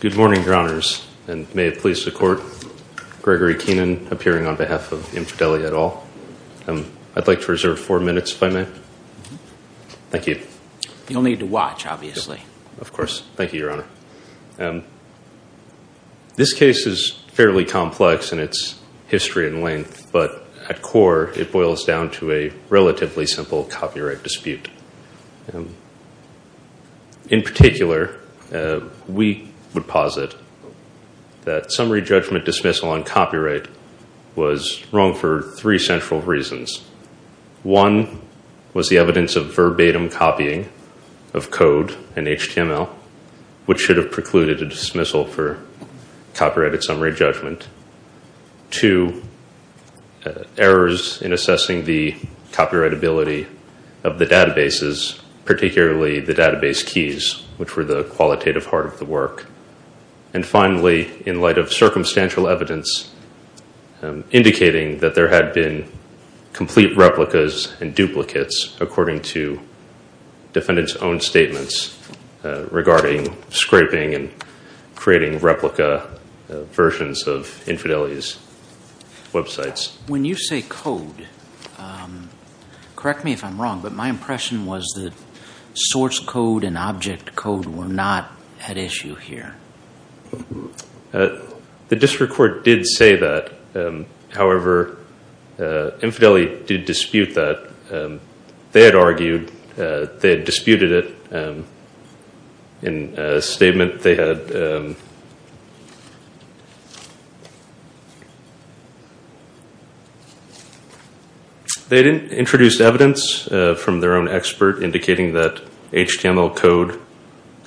Good morning, Your Honors, and may it please the Court, Gregory Keenan, appearing on behalf of InfoDeli et al. I'd like to reserve four minutes, if I may. Thank you. You'll need to watch, obviously. Of course. Thank you, Your Honor. This case is fairly complex in its history and length, but at core, it boils down to a relatively simple copyright dispute. In particular, we would posit that summary judgment dismissal on copyright was wrong for three central reasons. One was the evidence of verbatim copying of code and HTML, which should have precluded a dismissal for copyrighted summary judgment. Two, errors in assessing the copyrightability of the databases, particularly the database keys, which were the qualitative part of the work. And finally, in light of circumstantial evidence indicating that there had been complete replicas and duplicates according to defendant's own statements regarding scraping and creating replica versions of InfoDeli's websites. When you say code, correct me if I'm wrong, but my impression was that source code and object code were not at issue here. The district court did say that. However, InfoDeli did dispute that. They had argued, they had disputed it in a statement they had. They had introduced evidence from their own expert indicating that HTML code...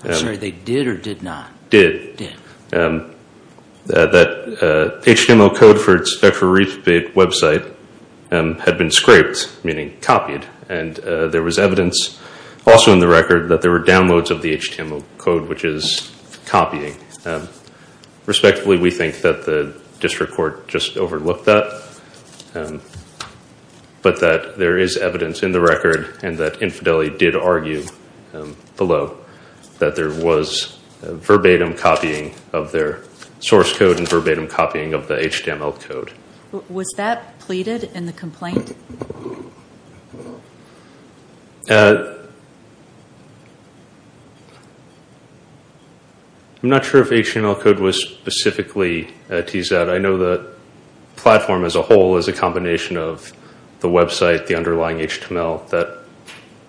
I'm sorry, they did or did not? Did. Did. That HTML code for its website had been scraped, meaning copied, and there was evidence also in the record that there were downloads of the HTML code, which is copying. Respectively, we think that the district court just overlooked that, but that there is evidence in the record and that InfoDeli did argue below that there was verbatim copying of their source code and verbatim copying of the HTML code. Was that pleaded in the complaint? I'm not sure if HTML code was specifically teased out. I know the platform as a whole is a combination of the website, the underlying HTML that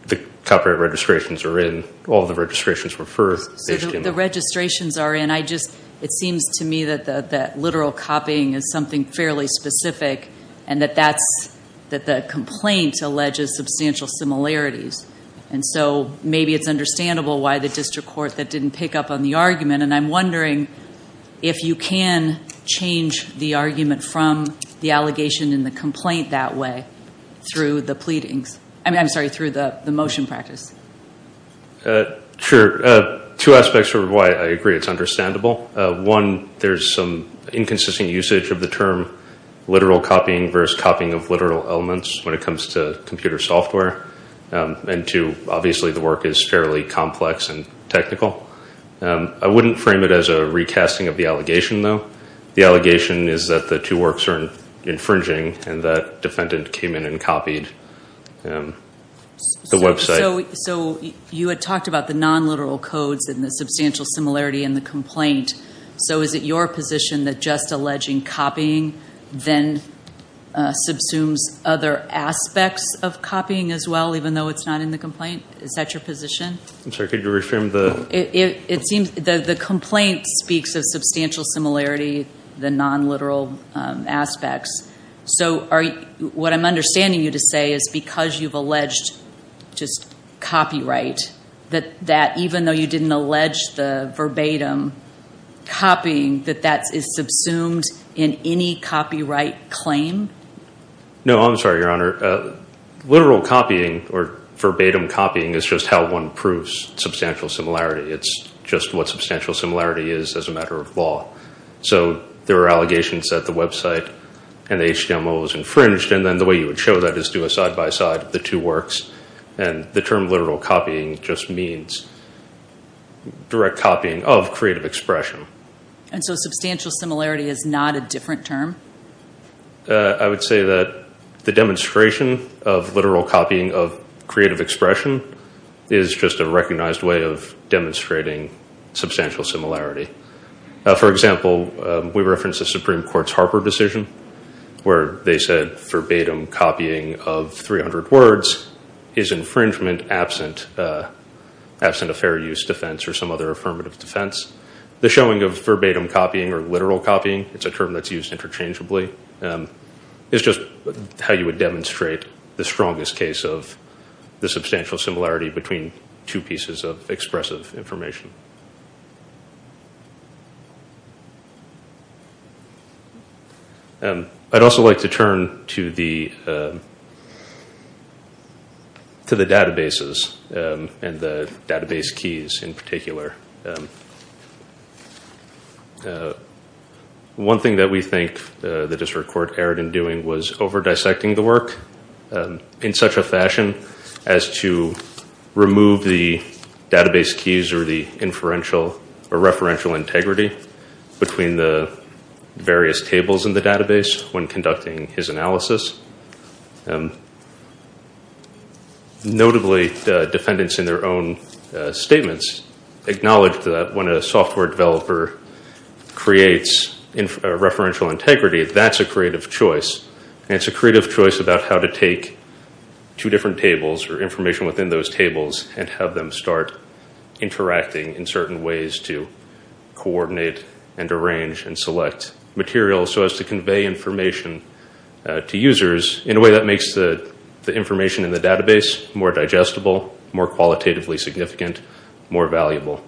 the copyright registrations are in. All of the registrations were for HTML. The registrations are in. It seems to me that literal copying is something fairly specific and that the complaint alleges substantial similarities. Maybe it's understandable why the district court didn't pick up on the argument. I'm wondering if you can change the argument from the allegation and the complaint that way through the pleadings. I'm sorry, through the motion practice. Sure. Two aspects of why I agree it's understandable. One, there's some inconsistent usage of the term literal copying versus copying of literal elements when it comes to computer software. And two, obviously the work is fairly complex and technical. I wouldn't frame it as a recasting of the allegation, though. The allegation is that the two works are infringing and that defendant came in and copied the website. So you had talked about the non-literal codes and the substantial similarity in the complaint. So is it your position that just alleging copying then subsumes other aspects of copying as well, even though it's not in the complaint? Is that your position? I'm sorry, could you reframe the... The complaint speaks of substantial similarity, the non-literal aspects. So what I'm understanding you to say is because you've alleged just copyright, that even though you didn't allege the verbatim copying, that that is subsumed in any copyright claim? No, I'm sorry, Your Honor. Literal copying or verbatim copying is just how one proves substantial similarity. It's just what substantial similarity is as a matter of law. So there are allegations that the website and the HTML was infringed, and then the way you would show that is do a side-by-side of the two works. And the term literal copying just means direct copying of creative expression. And so substantial similarity is not a different term? I would say that the demonstration of literal copying of creative expression is just a recognized way of demonstrating substantial similarity. For example, we reference the Supreme Court's Harper decision where they said verbatim copying of 300 words is infringement absent a fair use defense or some other affirmative defense. The showing of verbatim copying or literal copying, it's a term that's used interchangeably. It's just how you would demonstrate the strongest case of the substantial similarity between two pieces of expressive information. I'd also like to turn to the databases and the database keys in particular. One thing that we think the District Court erred in doing was over-dissecting the work in such a fashion as to remove the database keys or the inferential or referential integrity between the various tables in the database when conducting his analysis. Notably, defendants in their own statements acknowledged that when a software developer creates a referential integrity, that's a creative choice. And it's a creative choice about how to take two different tables or information within those tables and have them start interacting in certain ways to coordinate and arrange and select material so as to convey information to users in a way that makes the information in general more qualitatively significant, more valuable.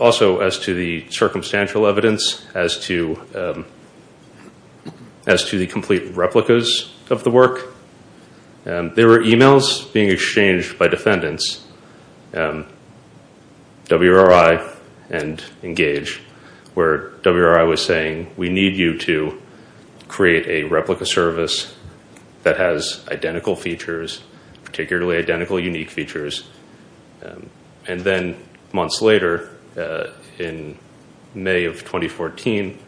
Also, as to the circumstantial evidence, as to the complete replicas of the work, there were emails being exchanged by defendants, WRI and Engage, where WRI was saying, we need you to create a replica service that has identical features, particularly identical unique features. And then months later, in May of 2014,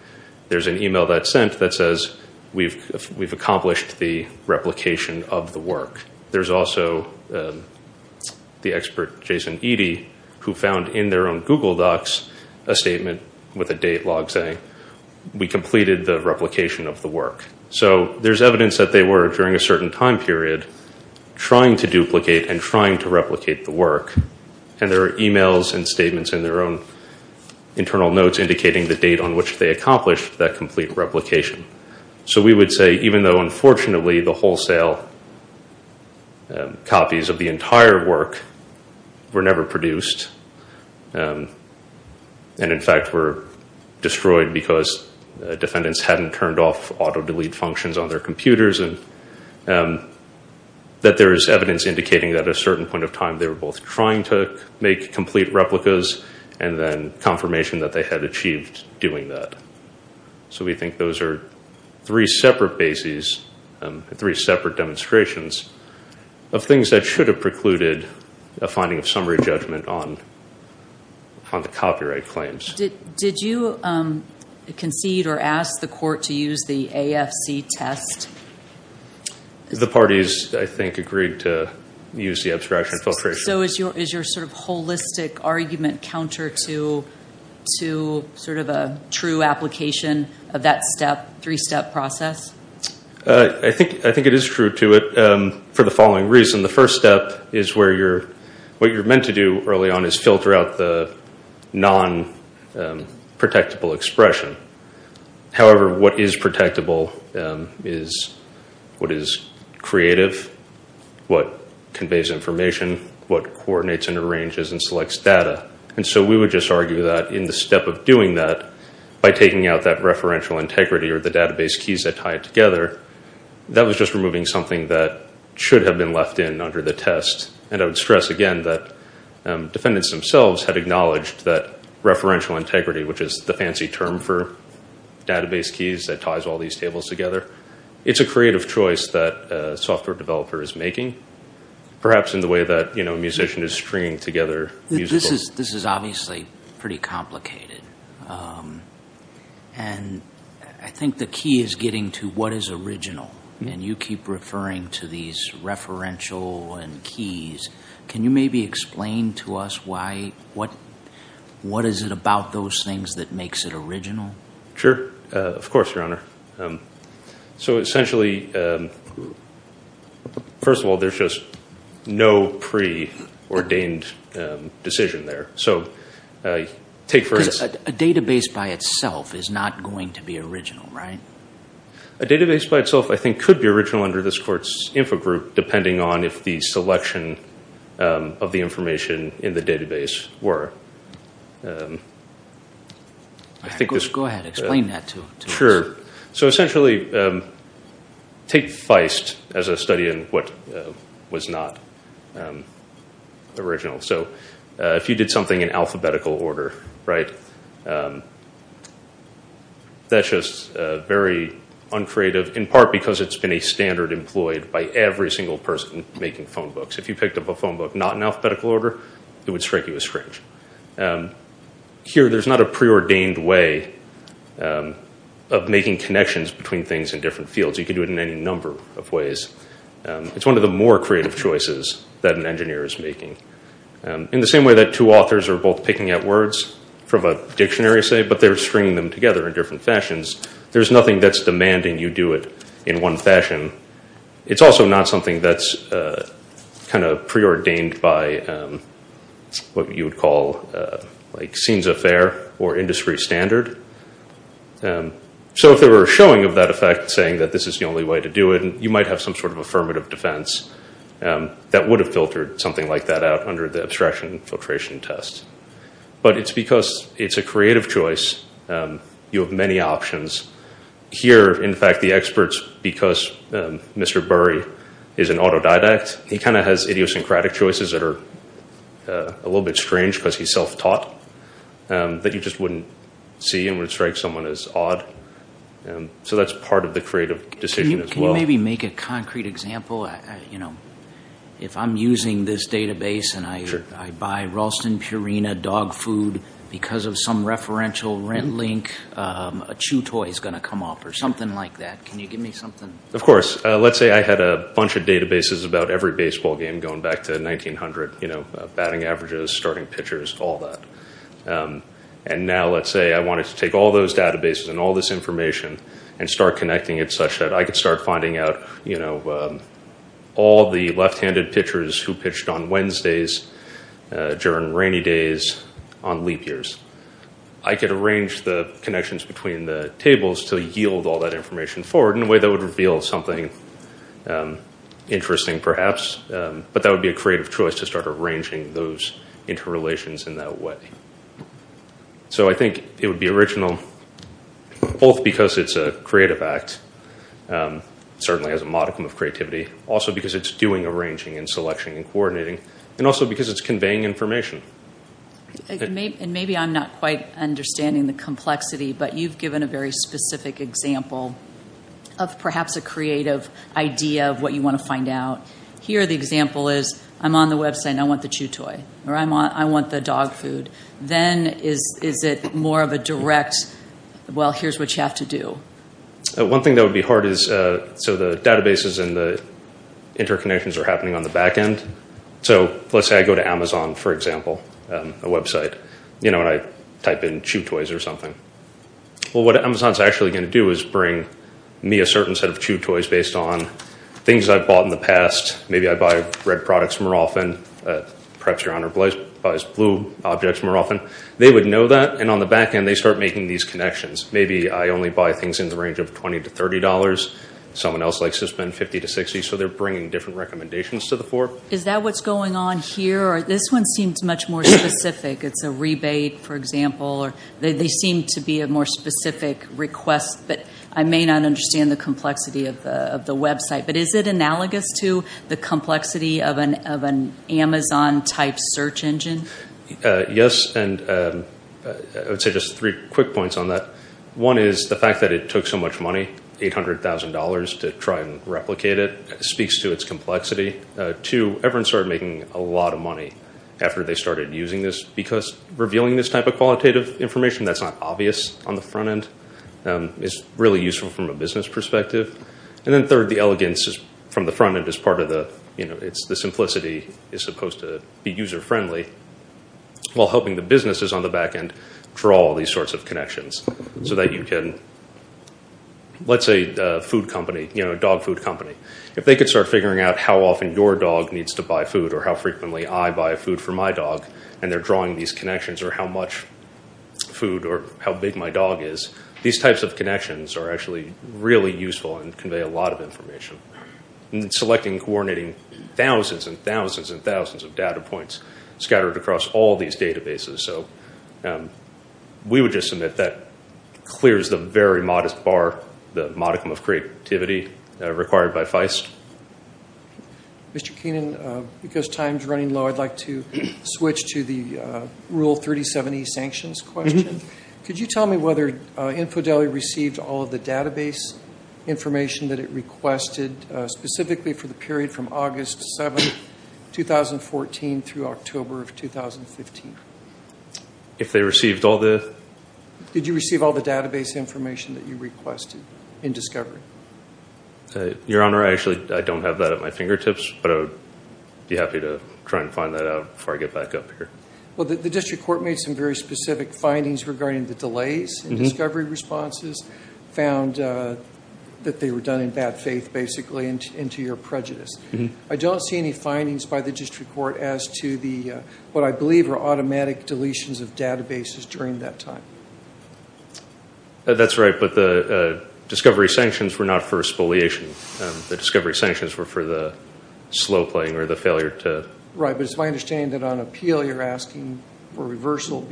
there's an email that's sent that says, we've accomplished the replication of the work. There's also the expert Jason Eady, who found in their own Google docs a statement with a date log saying, we completed the replication of the work. So there's evidence that they were, during a certain time period, trying to duplicate and trying to replicate the work. And there are emails and statements in their own internal notes indicating the date on which they accomplished that complete replication. So we would say, even though unfortunately the wholesale copies of the entire work were never produced, we believe that those copies were, in fact, were destroyed because defendants hadn't turned off auto-delete functions on their computers, and that there is evidence indicating that at a certain point of time they were both trying to make complete replicas and then confirmation that they had achieved doing that. So we think those are three separate bases, three separate demonstrations of things that should have precluded a finding of summary judgment on the content of those copyright claims. Did you concede or ask the court to use the AFC test? The parties, I think, agreed to use the abstraction filtration. So is your sort of holistic argument counter to sort of a true application of that step, three-step process? I think it is true to it for the following reason. The first step is where you're, what you're meant to do early on is to use a non-protectable expression. However, what is protectable is what is creative, what conveys information, what coordinates and arranges and selects data. And so we would just argue that in the step of doing that, by taking out that referential integrity or the database keys that tie it together, that was just removing something that should have been acknowledged, that referential integrity, which is the fancy term for database keys that ties all these tables together. It's a creative choice that a software developer is making, perhaps in the way that a musician is stringing together musical... This is obviously pretty complicated. And I think the key is getting to what is original. And you keep referring to these things, but what is it about those things that makes it original? Sure. Of course, Your Honor. So essentially, first of all, there's just no pre-ordained decision there. So take for instance... Because a database by itself is not going to be original, right? A database by itself I think could be original under this Court's info group, depending on if the selection of the information in the database is original or not. Go ahead, explain that to us. Sure. So essentially, take Feist as a study in what was not original. So if you did something in alphabetical order, right? That's just very uncreative, in part because it's been a standard employed by every single person making phone books. If you picked up a phone book not in alphabetical order, it would strike you as strange. Here, there's not a pre-ordained way of making connections between things in different fields. You can do it in any number of ways. It's one of the more creative choices that an engineer is making. In the same way that two authors are both picking up words from a dictionary, say, but they're stringing them together in different fashions, there's nothing that's demanding you do it in one fashion. It's also not something that's kind of pre-ordained by what you would call, like, scenes of fare or industry standard. So if there were a showing of that effect saying that this is the only way to do it, you might have some sort of affirmative defense that would have filtered something like that out under the abstraction and filtration test. But it's because it's a creative choice, you have many options. Here, in fact, the experts, because Mr. Burry is an autodidact, he kind of has idiosyncratic choices that are a little bit strange because he's self-taught, that you just wouldn't see and would strike someone as odd. So that's part of the creative decision as well. Can you maybe make a concrete example? If I'm using this database and I buy Ralston Purina dog food because of some story that's going to come up or something like that, can you give me something? Of course. Let's say I had a bunch of databases about every baseball game going back to 1900, batting averages, starting pitchers, all that. And now let's say I wanted to take all those databases and all this information and start connecting it such that I could start finding out all the left-handed pitchers who pitched on Wednesdays during rainy days on leap years. I could arrange the connections between the tables to yield all that information forward in a way that would reveal something interesting perhaps, but that would be a creative choice to start arranging those interrelations in that way. So I think it would be original both because it's a creative act, certainly has a modicum of creativity, also because it's doing arranging and selection and coordinating, and also because it's conveying information. And maybe I'm not quite understanding the complexity, but you've given a very specific example of perhaps a creative idea of what you want to find out. Here the example is I'm on the website and I want the chew toy, or I want the dog food. Then is it more of a direct, well, here's what you have to do? One thing that would be hard is so the databases and the interconnections are happening on the back end. So let's say I go to Amazon, for example, a website, and I type in chew toys or something. Well, what Amazon's actually going to do is bring me a certain set of chew toys based on things I've bought in the past. Maybe I buy red products more often. Perhaps Your Honor buys blue objects more often. They would know that, and on the back end, they start making these connections. Maybe I only buy things in the range of $20 to $30. Someone else likes to spend $50 to $60. Is that what's going on here? This one seems much more specific. It's a rebate, for example. They seem to be a more specific request, but I may not understand the complexity of the website. But is it analogous to the complexity of an Amazon-type search engine? Yes, and I would say just three quick points on that. One is the fact that it took so much money, $800,000 to try and replicate it, speaks to its complexity. Two, everyone started making a lot of money after they started using this, because revealing this type of qualitative information that's not obvious on the front end is really useful from a business perspective. And then third, the elegance from the front end is part of the simplicity. It's supposed to be user-friendly, while helping the businesses on the back end draw all these sorts of connections. So that you can, let's say a dog food company, if they could start figuring out how often your dog needs to buy food, or how frequently I buy food for my dog, and they're drawing these connections, or how much food, or how big my dog is, these types of connections are actually really useful and convey a lot of information. Selecting and coordinating thousands and thousands and thousands of data points, scattered across all these databases. We would just submit that clears the very modest bar, the modicum of creativity required by Feist. Mr. Keenan, because time's running low, I'd like to switch to the Rule 37E sanctions question. Could you tell me whether InfoDelhi received all of the database information that it requested, specifically for the period from August 7, 2014 through October of 2015? Did you receive all the database information that you requested in discovery? Your Honor, I don't have that at my fingertips, but I'd be happy to try and find that out before I get back up here. Well, the district court made some very specific findings regarding the delays in discovery responses, found that they were done in bad faith, basically, and to your prejudice. I don't see any findings by the district court as to what I believe are automatic deletions of databases during that time. That's right, but the discovery sanctions were not for spoliation. The discovery sanctions were for the slow playing, or the failure to... Right, but it's my understanding that on appeal you're asking for reversal and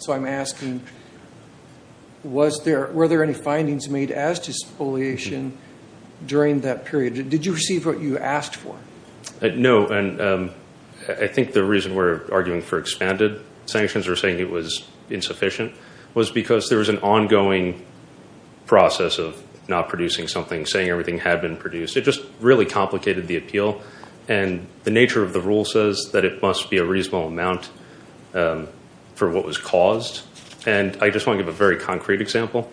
so I'm asking, were there any findings made as to spoliation during that period? Did you receive what you asked for? No, and I think the reason we're arguing for expanded sanctions or saying it was insufficient was because there was an ongoing process of not producing something, saying everything had been produced. It just really complicated the appeal, and the nature of the rule says that it must be a reasonable amount for what was caused, and I just want to give a very concrete example.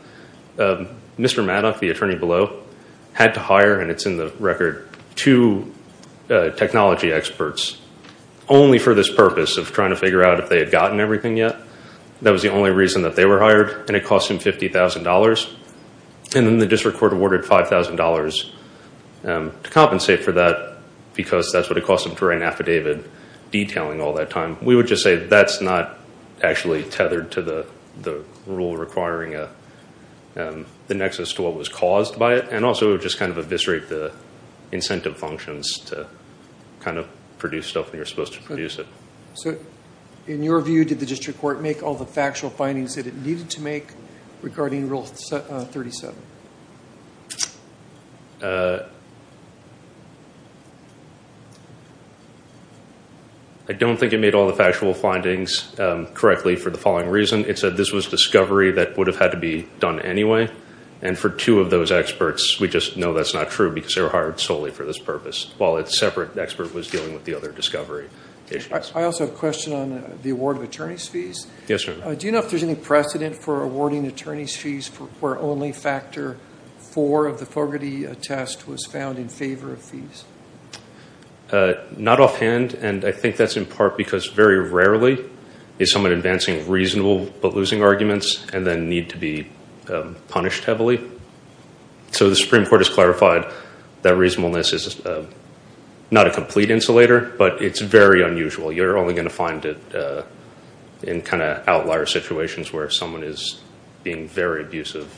Mr. Maddox, the attorney below, had to hire, and it's in the record, two technology experts only for this purpose of trying to figure out if they had gotten everything yet. That was the only reason that they were hired, and it cost him $50,000, and then the district court awarded $5,000 to compensate for that because that's what it cost them to write an affidavit detailing all that time. We would just say that's not actually tethered to the rule requiring the nexus to what was caused by it, and also it would just eviscerate the incentive functions to produce stuff when you're supposed to produce it. In your view, did the district court make all the factual findings that it needed to make regarding Rule 37? I don't think it made all the factual findings correctly for the following reason. It said this was discovery that would have had to be done anyway, and for two of those experts, we just know that's not true because they were hired solely for this purpose, while a separate expert was dealing with the other discovery issues. I also have a question on the award of attorney's fees. Yes, sir. Do you know if there's any precedent for awarding attorney's fees where only factor four of the Fogarty test was found in favor of fees? Not offhand, and I think that's in part because very rarely is someone advancing reasonable but losing arguments and then need to be punished heavily. The Supreme Court has clarified that reasonableness is not a complete insulator, but it's very unusual. You're only going to find it in outlier situations where someone is being very abusive.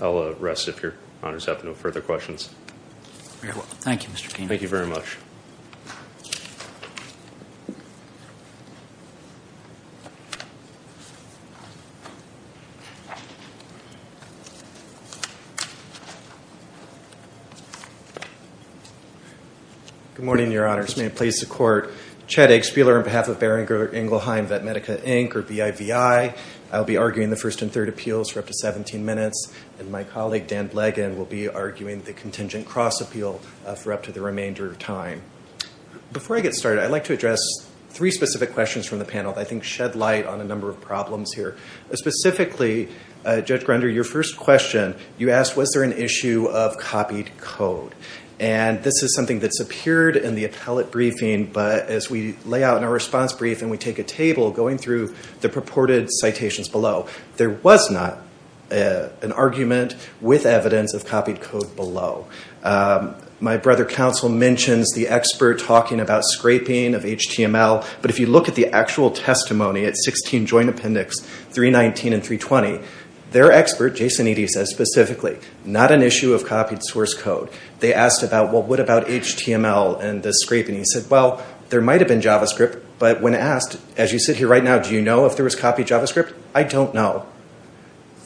I'll rest if your honors have no further questions. Very well. Thank you, Mr. King. Thank you very much. Good morning, your honors. May it please the court. Chad Eggspieler on behalf of Beringer, Engelheim, Vetmedica, Inc., or BIVI. I'll be arguing the first and third appeals for up to 17 minutes, and my colleague Dan Bleggin will be arguing the contingent cross appeal for up to the remainder of time. Before I get started, I'd like to address three specific questions from the panel that I think shed light on a number of problems here. Specifically, Judge Grunder, your first question, you asked was there an issue of copied code? This is something that's appeared in the appellate briefing, but as we lay out in our response brief and we take a table, going through the purported citations below, there was not an argument with evidence of copied code below. My brother counsel mentions the expert talking about scraping of HTML, but if you look at the actual testimony at 16 Joint Appendix 319 and 320, their expert, Jason Eady, says specifically, not an issue of copied source code. They asked about HTML and the scraping. He said, well, there might have been JavaScript, but when asked, as you sit here right now, do you know if there was copied JavaScript? I don't know.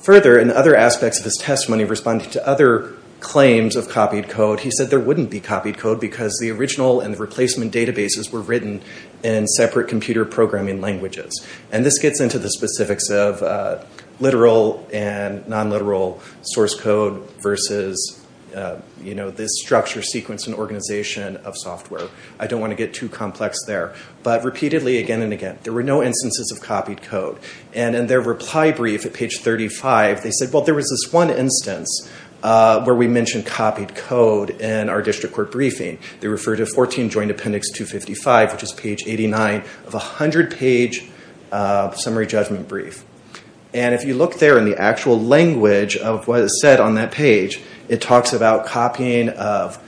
Further, in other aspects of his testimony, responding to other claims of copied code, he said there wouldn't be copied code because the original and the replacement databases were written in separate computer programming languages. This gets into the specifics of literal and non-literal source code versus this structure, sequence, and organization of software. I don't want to get too complex there. Repeatedly, again and again, there were no instances of copied code. In their reply brief at page 35, they said there was this one instance where we mentioned copied code in our district court briefing. They referred to 14 Joint Appendix 255, which is page 89 of a 100-page summary judgment brief. If you look there in the actual language of what is said on that page, it talks about copying of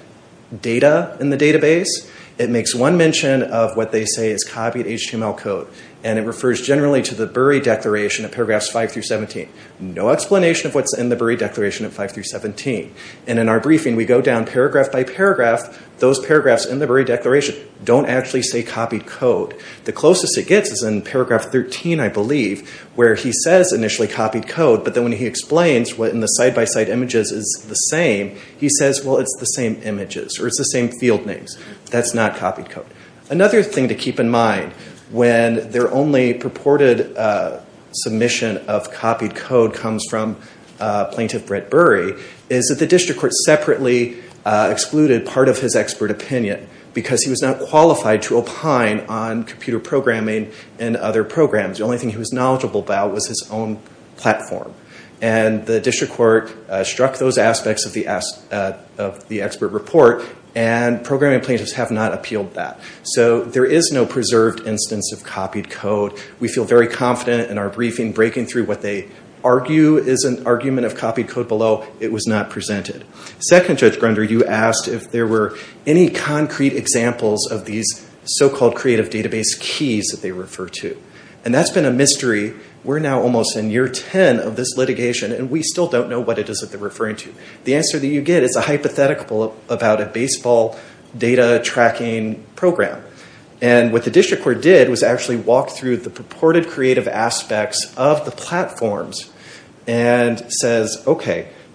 data in the database. It makes one mention of what they say is copied HTML code. It refers generally to the Burry Declaration at paragraphs 5-17. No explanation of what's in the Burry Declaration at 5-17. In our briefing, we go down paragraph by paragraph. Those paragraphs in the Burry Declaration don't actually say copied code. The closest it gets is in paragraph 13, I believe, where he says initially copied code, but then when he explains what in the side-by-side images is the same, he says, well, it's the same images or it's the same field names. That's not copied code. Another thing to keep in mind when their only purported submission of copied code comes from Plaintiff Brett Burry is that the district court separately excluded part of his expert opinion because he was not qualified to opine on computer programming and other programs. The only thing he was knowledgeable about was his own platform. The district court struck those aspects of the expert report and programming plaintiffs have not appealed that. So there is no preserved instance of copied code. We feel very confident in our briefing. Breaking through what they argue is an argument of copied code below, it was not presented. Second, Judge Grunder, you asked if there were any concrete examples of these so-called creative database keys that they refer to. That's been a mystery. We're now almost in year 10 of this litigation and we still don't know what it is that they're referring to. The answer you get is a hypothetical about a baseball data tracking program. What the district court did was actually walk through the purported creative aspects of the platforms.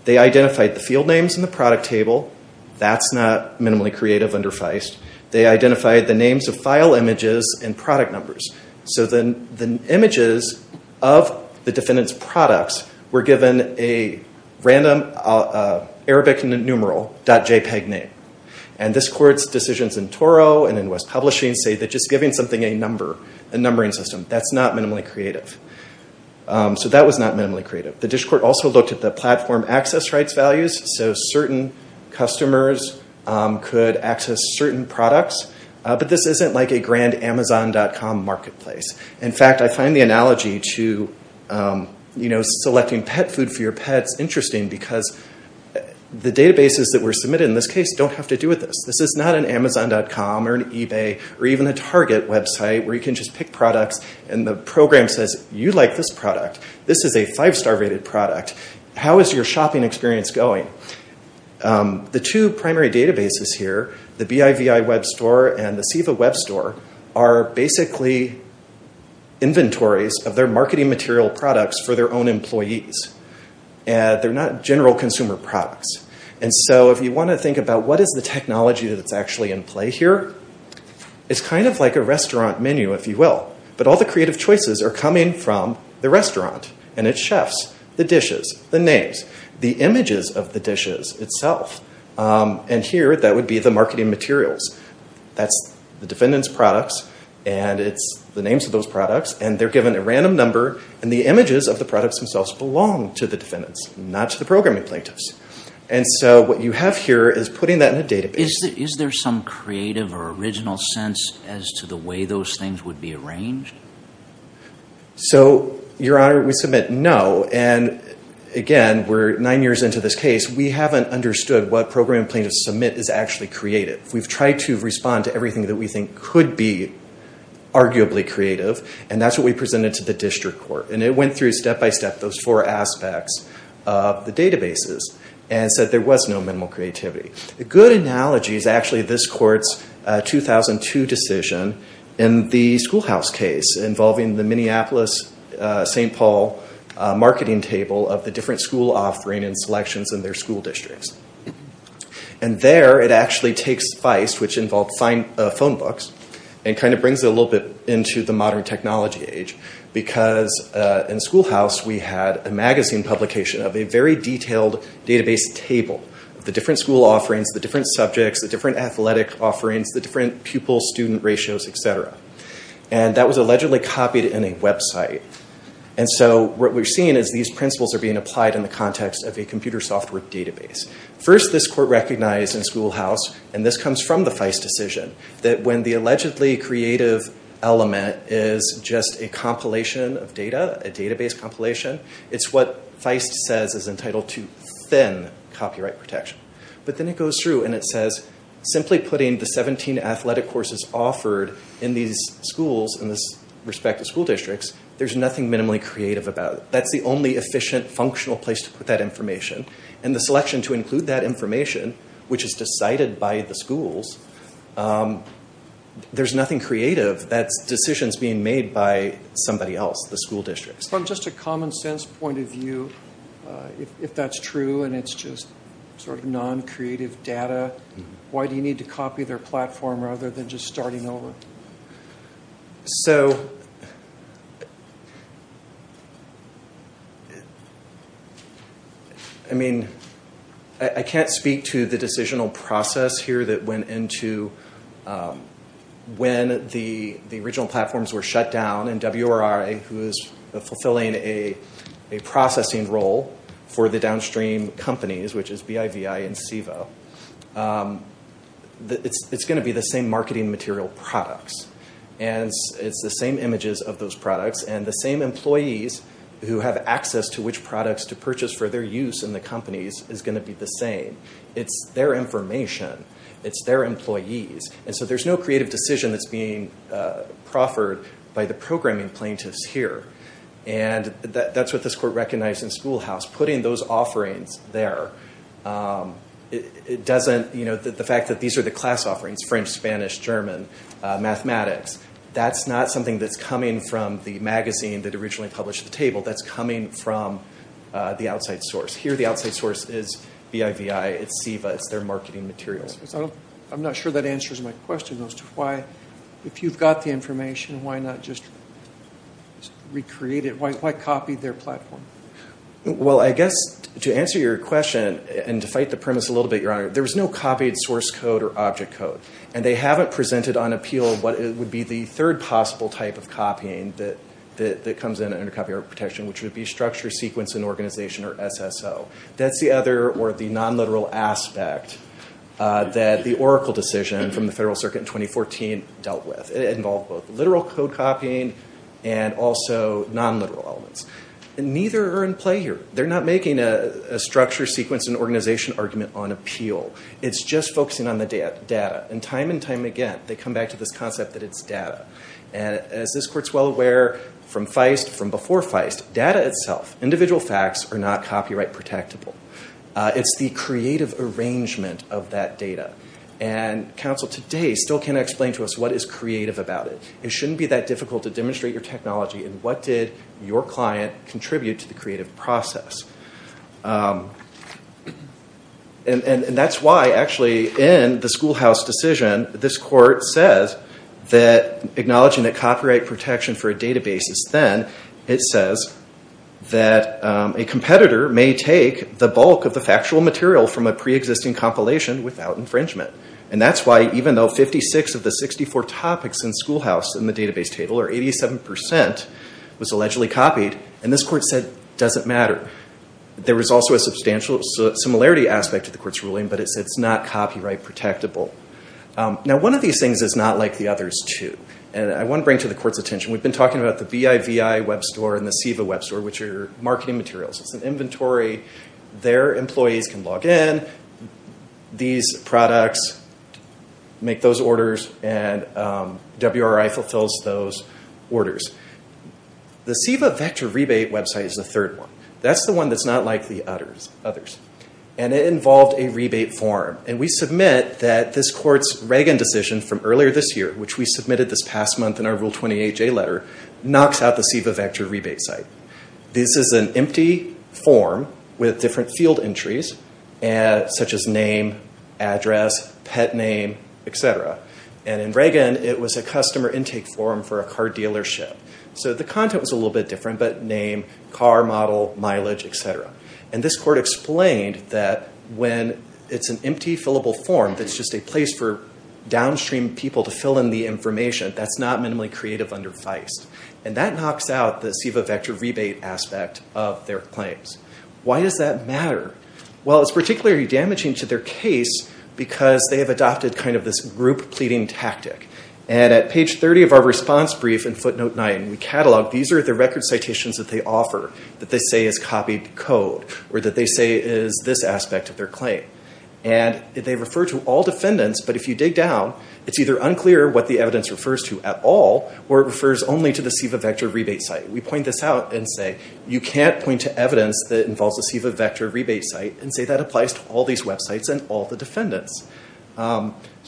They identified the field names in the product table. That's not minimally creative under Feist. They identified the names of file images and product numbers. The images of the defendant's products were given a random Arabic numeral dot JPEG name. This court's decisions in Toro and in West Publishing say that just giving something a number, a numbering system, that's not minimally creative. The district court also looked at the platform access rights values so certain customers could access certain products but this isn't like a grand Amazon.com marketplace. In fact, I find the analogy to selecting pet food for your pets interesting because the databases that were submitted in this case don't have to do with this. This is not an Amazon.com or an eBay or even a Target website where you can just pick products and the program says, you like this product, this is a five-star rated product, how is your shopping experience going? The two primary databases here, the BIVI Web Store and the SEVA Web Store, are basically inventories of their marketing material products for their own employees. They're not general consumer products. If you want to think about what is the technology that's actually in play here, it's kind of like a restaurant menu, if you will. But all the creative choices are coming from the restaurant and its chefs, the dishes, the names, the images of the dishes itself. Here, that would be the marketing materials. That's the defendant's products and it's the names of those products and they're given a random number and the images of the products themselves belong to the defendants, not to the programming plaintiffs. What you have here is putting that in a database. Is there some creative or original sense as to the way those things would be arranged? Your Honor, we submit no and again, we're nine years into this case, we haven't understood what programming plaintiffs submit is actually creative. We've tried to respond to everything that we think could be arguably creative and that's what we presented to the district court. It went through step-by-step those four aspects of the databases and said there was no minimal creativity. A good analogy is actually this court's 2002 decision in the schoolhouse case involving the Minneapolis-St. Paul marketing table of the different school offering and selections in their school districts. There, it actually takes Feist, which involved phone books and brings it a little bit into the modern technology age because in schoolhouse, we had a magazine publication of a very detailed database table of the different school offerings, the different subjects, the different athletic offerings, the different pupil-student ratios, etc. That was allegedly copied in a website. What we're seeing is these principles are being applied in the context of a computer software database. First, this court recognized in schoolhouse, and this comes from the Feist decision, that when the allegedly creative element is just a compilation of data, a database compilation, it's what Feist says is entitled to thin copyright protection. Then it goes through and it says simply putting the 17 athletic courses offered in these schools in this respective school districts, there's nothing minimally creative about it. That's the only efficient, functional place to put that information. The selection to include that information, which is decided by the schools, there's nothing creative. That decision's being made by somebody else, the school districts. From just a common sense point of view, if that's true and it's just non-creative data, why do you need to copy their platform rather than just starting over? I can't speak to the decisional process here that went into when the original platforms were shut down and WRI, who is fulfilling a processing role for the downstream companies, which is BIVI and SEVO, it's going to be the same marketing material products. It's the same images of those products and the same employees who have access to which and the companies is going to be the same. It's their information. It's their employees. There's no creative decision that's being proffered by the programming plaintiffs here. That's what this court recognized in Schoolhouse. Putting those offerings there, the fact that these are the class offerings, French, Spanish, German, mathematics, that's not something that's coming from the magazine that originally published the table. That's coming from the outside source. Here the outside source is BIVI. It's SEVO. It's their marketing materials. I'm not sure that answers my question as to why, if you've got the information, why not just recreate it? Why copy their platform? To answer your question and to fight the premise a little bit, there was no copied source code or object code. They haven't presented on appeal what would be the third possible type of copying that comes in under copyright protection, which would be structure, sequence, and organization or SSO. That's the other or the non-literal aspect that the Oracle decision from the Federal Circuit in 2014 dealt with. It involved both literal code copying and also non-literal elements. Neither are in play here. They're not making a structure, sequence, and organization argument on appeal. It's just focusing on the data. Time and time again, they come back to this concept that it's data. As this Court is well aware from Feist, from before Feist, data itself, individual facts, are not copyright protectable. It's the creative arrangement of that data. Counsel today still can't explain to us what is creative about it. It shouldn't be that difficult to demonstrate your technology and what did your client contribute to the creative process. That's why, actually, in the Schoolhouse decision, this Court says that acknowledging that copyright protection for a database is thin, it says that a competitor may take the bulk of the factual material from a pre-existing compilation without infringement. That's why, even though 56 of the 64 topics in Schoolhouse in the database table, or 87%, was allegedly copied, and this Court said it doesn't matter. There was also a substantial similarity aspect to the Court's ruling, but it said it's not copyright protectable. One of these things is not like the others, too. We've been talking about the BIVI Web Store and the SEVA Web Store, which are marketing materials. It's an inventory. Their employees can log in, these products make those orders, and WRI fulfills those orders. The SEVA Vector Rebate website is the third one. That's the one that's not like the others. It involved a rebate form. We submit that this Court's Reagan decision from earlier this year, which we submitted this past month in our Rule 28J letter, knocks out the SEVA Vector Rebate site. This is an empty form with different field entries, such as name, address, pet name, etc. In Reagan, it was a customer intake form for a car dealership. The content was a little bit different, but name, car model, mileage, etc. This Court explained that when it's an empty fillable form that's just a place for downstream people to fill in the information, that's not minimally creative under Feist. That knocks out the SEVA Vector Rebate aspect of their claims. Why does that matter? It's particularly damaging to their case because they have adopted this group pleading tactic. At page 30 of our response brief in footnote 9, we catalog these are the record citations that they offer that they say is copied code, or that they say is this aspect of their claim. They refer to all defendants, but if you dig down, it's either unclear what the evidence refers to at all, or it refers only to the SEVA Vector Rebate site. We point this out and say you can't point to evidence that involves the SEVA Vector Rebate site and say that applies to all these websites and all the defendants.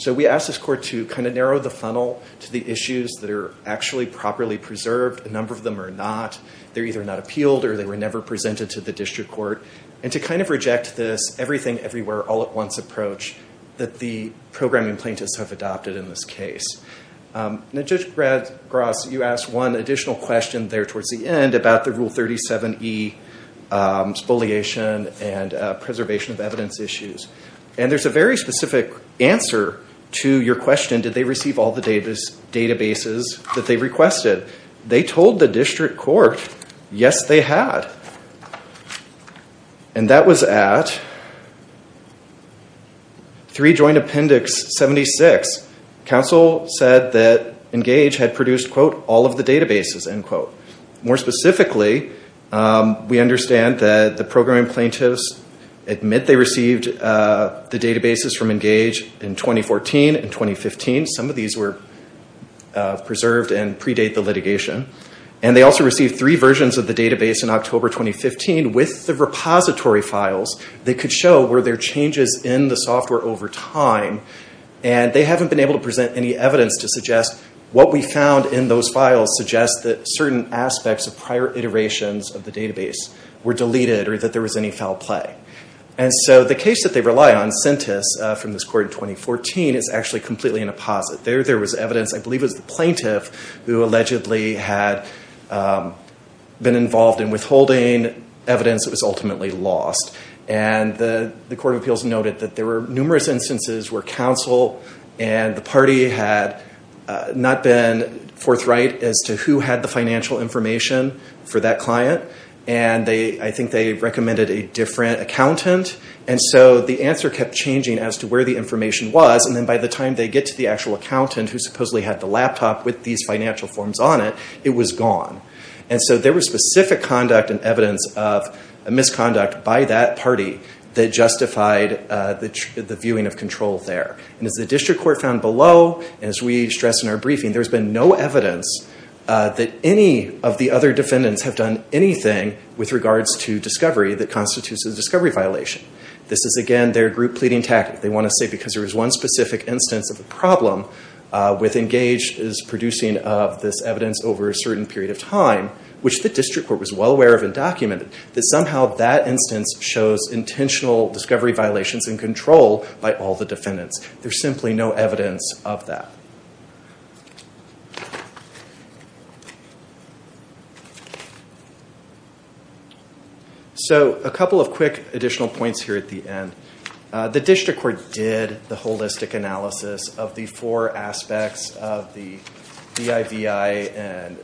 We ask this court to narrow the funnel to the issues that are actually properly preserved. A number of them are not. They're either not appealed or they were never presented to the district court, and to reject this everything, everywhere, all at once approach that the programming plaintiffs have adopted in this case. Judge Gross, you asked one additional question there towards the end about the Rule 37E spoliation and preservation of evidence issues. And there's a very specific answer to your question did they receive all the databases that they requested? They told the district court yes, they had. And that was at 3 Joint Appendix 76. Counsel said that Engage had produced quote, all of the databases, end quote. More specifically, we understand that the programming plaintiffs admit they received the databases from Engage in 2014 and 2015. Some of these were preserved and predate the litigation. And they also received three versions of the database in October 2015 with the repository files that could show were there changes in the software over time and they haven't been able to present any evidence to suggest what we found in those files suggests that certain aspects of prior iterations of the database were deleted or that there was any foul play. And so the case that they rely on, Sentis from this court in 2014, is actually completely in a posit. There was evidence, I believe it was the plaintiff who allegedly had been involved in withholding evidence that was ultimately lost. And the Court of Appeals noted that there were numerous instances where counsel and the party had not been forthright as to who had the financial information for that client. And I think they recommended a different accountant. And so the answer kept changing as to where the information was and then by the time they get to the actual accountant who supposedly had the laptop with these financial forms on it, it was gone. And so there was specific conduct and evidence of misconduct by that party that justified the viewing of control there. And as the district court found below, as we stress in our briefing, there's been no evidence that any of the other defendants have done anything with regards to discovery that constitutes a discovery violation. This is, again, their group pleading tactic. They want to say because there was one specific instance of a problem with Engage's producing of this evidence over a certain period of time, which the district court was well aware of and documented, that somehow that instance shows intentional discovery violations in control by all the defendants. There's simply no evidence of that. So a couple of quick additional points here at the end. The district court did the holistic analysis of the four aspects of the BIVI and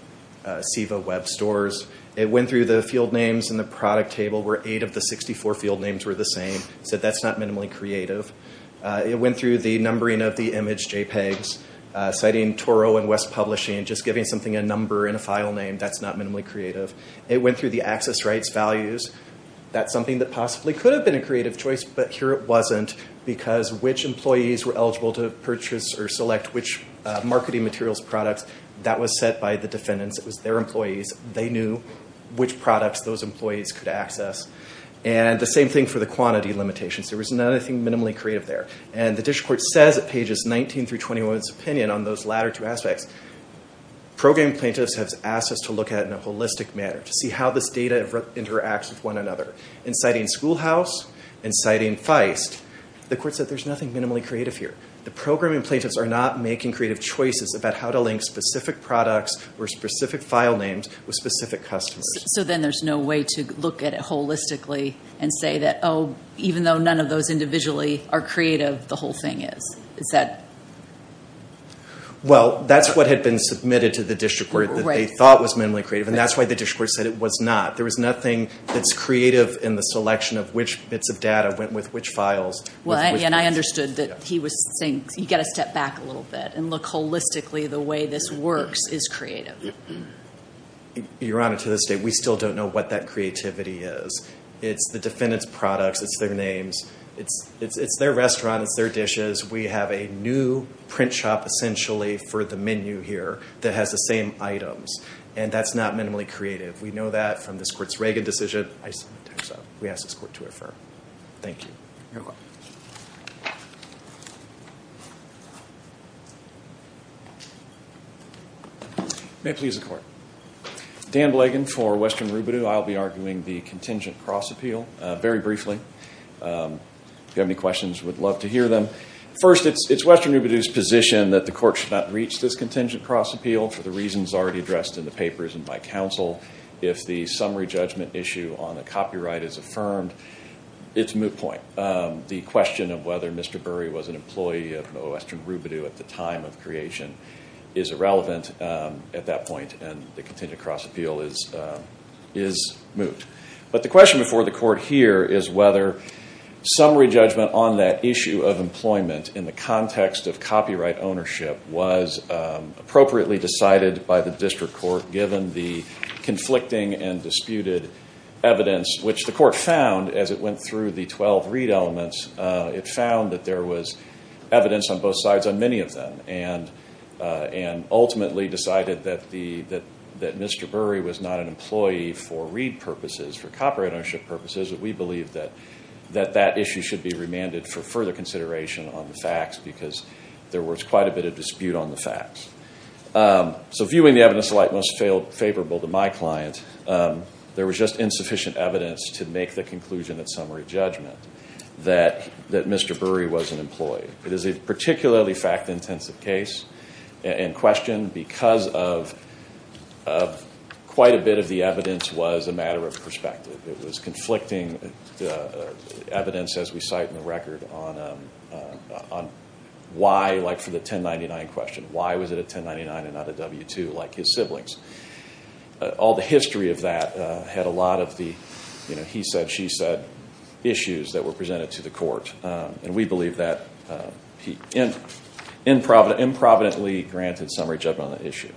SEVA web stores. It went through the field names in the product table where eight of the 64 field names were the same. So that's not minimally creative. It went through the numbering of the image JPEGs, citing Toro and West Publishing, just giving something a number and a file name, that's not minimally creative. It went through the access rights values. That's something that possibly could have been a creative choice, but here it wasn't, because which employees were eligible to purchase or select which marketing materials products, that was set by the defendants. It was their employees. They knew which products those employees could access. And the same thing for the quantity limitations. There was nothing minimally creative there. And the district court says at pages 19 through 21 of its opinion on those latter two aspects, programming plaintiffs have asked us to look at it in a holistic manner, to see how this data interacts with one another. In citing Schoolhouse, in citing Feist, the court said there's nothing minimally creative here. The programming plaintiffs are not making creative choices about how to link specific products or specific file names with specific customers. So then there's no way to look at it holistically and say that even though none of those individually are creative, the whole thing is? Well, that's what had been submitted to the district court that they thought was minimally creative, and that's why the district court said it was not. There was nothing that's creative in the selection of which bits of data went with which files. And I understood that he was saying you've got to step back a little bit and look holistically the way this works is creative. Your Honor, to this day we still don't know what that creativity is. It's the defendant's products, it's their names, it's their restaurants, it's their dishes. We have a new print shop essentially for the menu here that has the same items. And that's not minimally creative. We know that from this Court's Reagan decision. We ask this Court to refer. Thank you. May it please the Court. Dan Blagan for Western Reubenew. I'll be arguing the contingent cross appeal very briefly. If you have any questions, we'd love to hear them. First, it's Western Reubenew's position that the Court should not reach this contingent cross appeal for the reasons already addressed in the papers and by counsel. If the summary judgment issue on the copyright is affirmed, it's a moot point. The question of whether Mr. Burry was an employee of Western Reubenew at the time of creation is irrelevant at that point and the contingent cross appeal is moot. But the question before the Court here is whether summary judgment on that issue of employment in the context of copyright ownership was appropriately decided by the District Court given the conflicting and disputed evidence which the Court found as it went through the 12 read elements. It found that there was evidence on both sides on many of them and ultimately decided that Mr. Burry was not an employee for read purposes, for copyright ownership purposes, that we believe that that issue should be remanded for further consideration on the facts because there was quite a bit of dispute on the facts. So, viewing the evidence alike most favorable to my client, there was just insufficient evidence to make the conclusion at summary judgment that Mr. Burry was an employee. It is a particularly fact-intensive case in question because of quite a bit of the evidence was a matter of perspective. It was conflicting evidence as we cite in the record on why, like for the 1099 question, why was it a 1099 and not a W-2 like his siblings? All the history of that had a lot of the he said, she said issues that were presented to the Court and we believe that he improvidently granted summary judgment on the issue.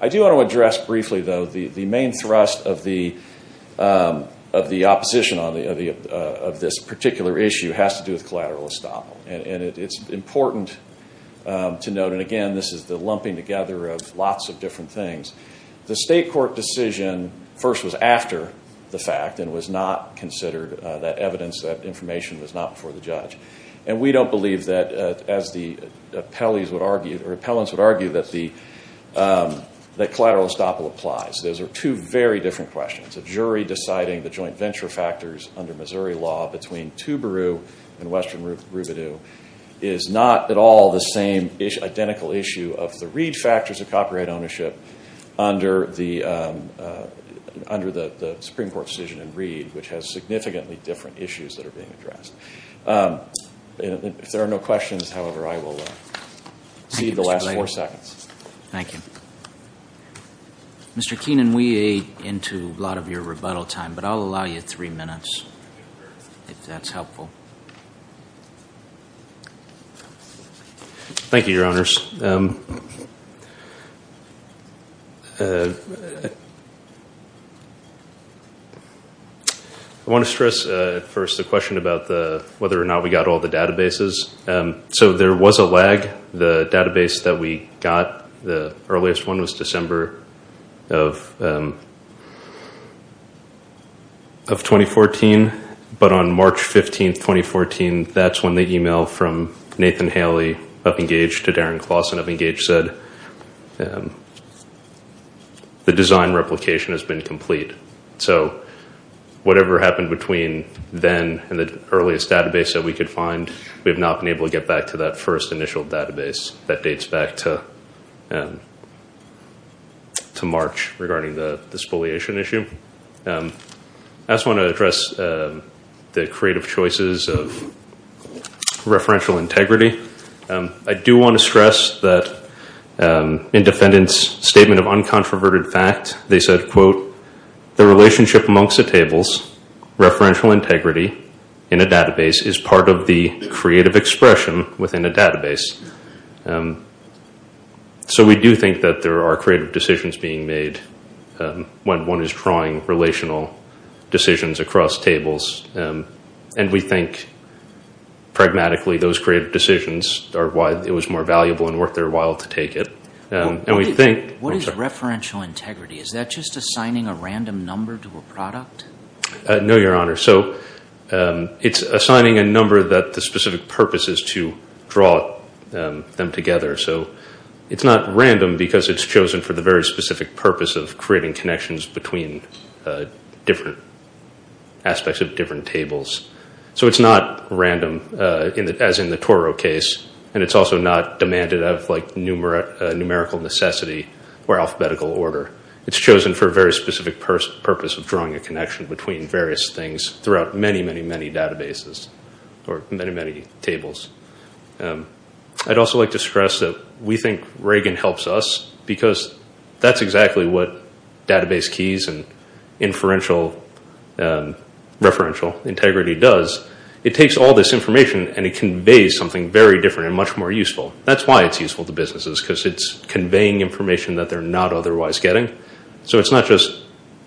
I do want to address briefly though the main thrust of the opposition of this particular issue has to do with collateral estoppel and it is important to note, and again this is the lumping together of lots of different things. The state court decision first was after the fact and was not considered that evidence, that information was not before the judge. And we don't believe that as the appellants would argue that the collateral estoppel applies. Those are two very different questions. A jury deciding the joint venture factors under Missouri law between Toobaroo and Western Roubideau is not at all the same identical issue of the Reed factors of copyright ownership under the Supreme Court decision in Reed which has significantly different issues that are being addressed. If there are no questions, however, I will see you in the last four seconds. Thank you. Mr. Keenan, we ate into a lot of your rebuttal time, but I'll allow you three minutes if that's helpful. Thank you, Your Honors. I want to stress first the question about whether or not we got all the databases. So there was a lag. The database that we got, the earliest one was December of 2014, but on March 15, 2014, that's when the email from Nathan Haley of Engage to Darren Clausen of Engage said the design replication has been complete. So whatever happened between then and the earliest database that we could find, we have not been able to get back to that first initial database that dates back to March regarding the spoliation issue. I just want to address the creative choices of referential integrity. I do want to stress that in defendant's statement of uncontroverted fact, they said quote, the relationship amongst the tables referential integrity in a database is part of the creative expression within a database. So we do think that there are creative decisions being made when one is drawing relational decisions across tables and we think pragmatically those creative decisions are why it was more valuable and worth their while to take it. What is referential integrity? Is that just assigning a random number to a product? No, Your Honor. It's assigning a number that the specific purpose is to draw them together. It's not random because it's chosen for the very specific purpose of creating connections between different aspects of different tables. So it's not random as in the Toro case and it's also not demanded of numerical necessity or alphabetical purpose of drawing a connection between various things throughout many, many, many databases or many, many tables. I'd also like to stress that we think Reagan helps us because that's exactly what database keys and inferential referential integrity does. It takes all this information and it conveys something very different and much more useful. That's why it's useful to businesses because it's conveying information that they're not otherwise getting. So it's not just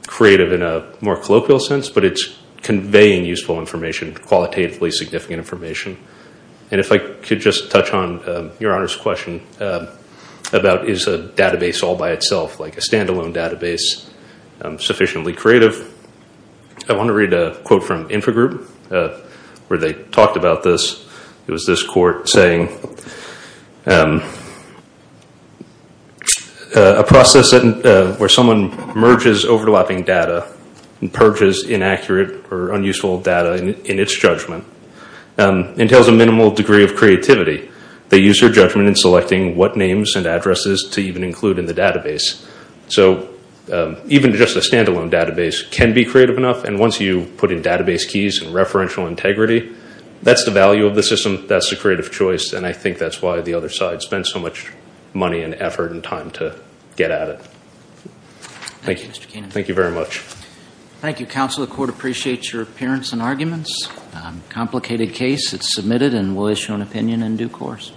creative in a more colloquial sense but it's conveying useful information, qualitatively significant information. And if I could just touch on Your Honor's question about is a database all by itself like a standalone database sufficiently creative. I want to read a quote from Infogroup where they talked about this. It was this court saying a process where someone merges overlapping data and purges inaccurate or unuseful data in its judgment entails a minimal degree of creativity. They use their judgment in selecting what names and addresses to even include in the database. So even just a standalone database can be creative enough and once you put in database keys and referential integrity, that's the value of the system That's the creative choice and I think that's why the other side spent so much money and effort and time to get at it. Thank you. Thank you very much. Thank you counsel. The court appreciates your appearance and arguments. Complicated case. It's submitted and we'll issue an opinion in due course.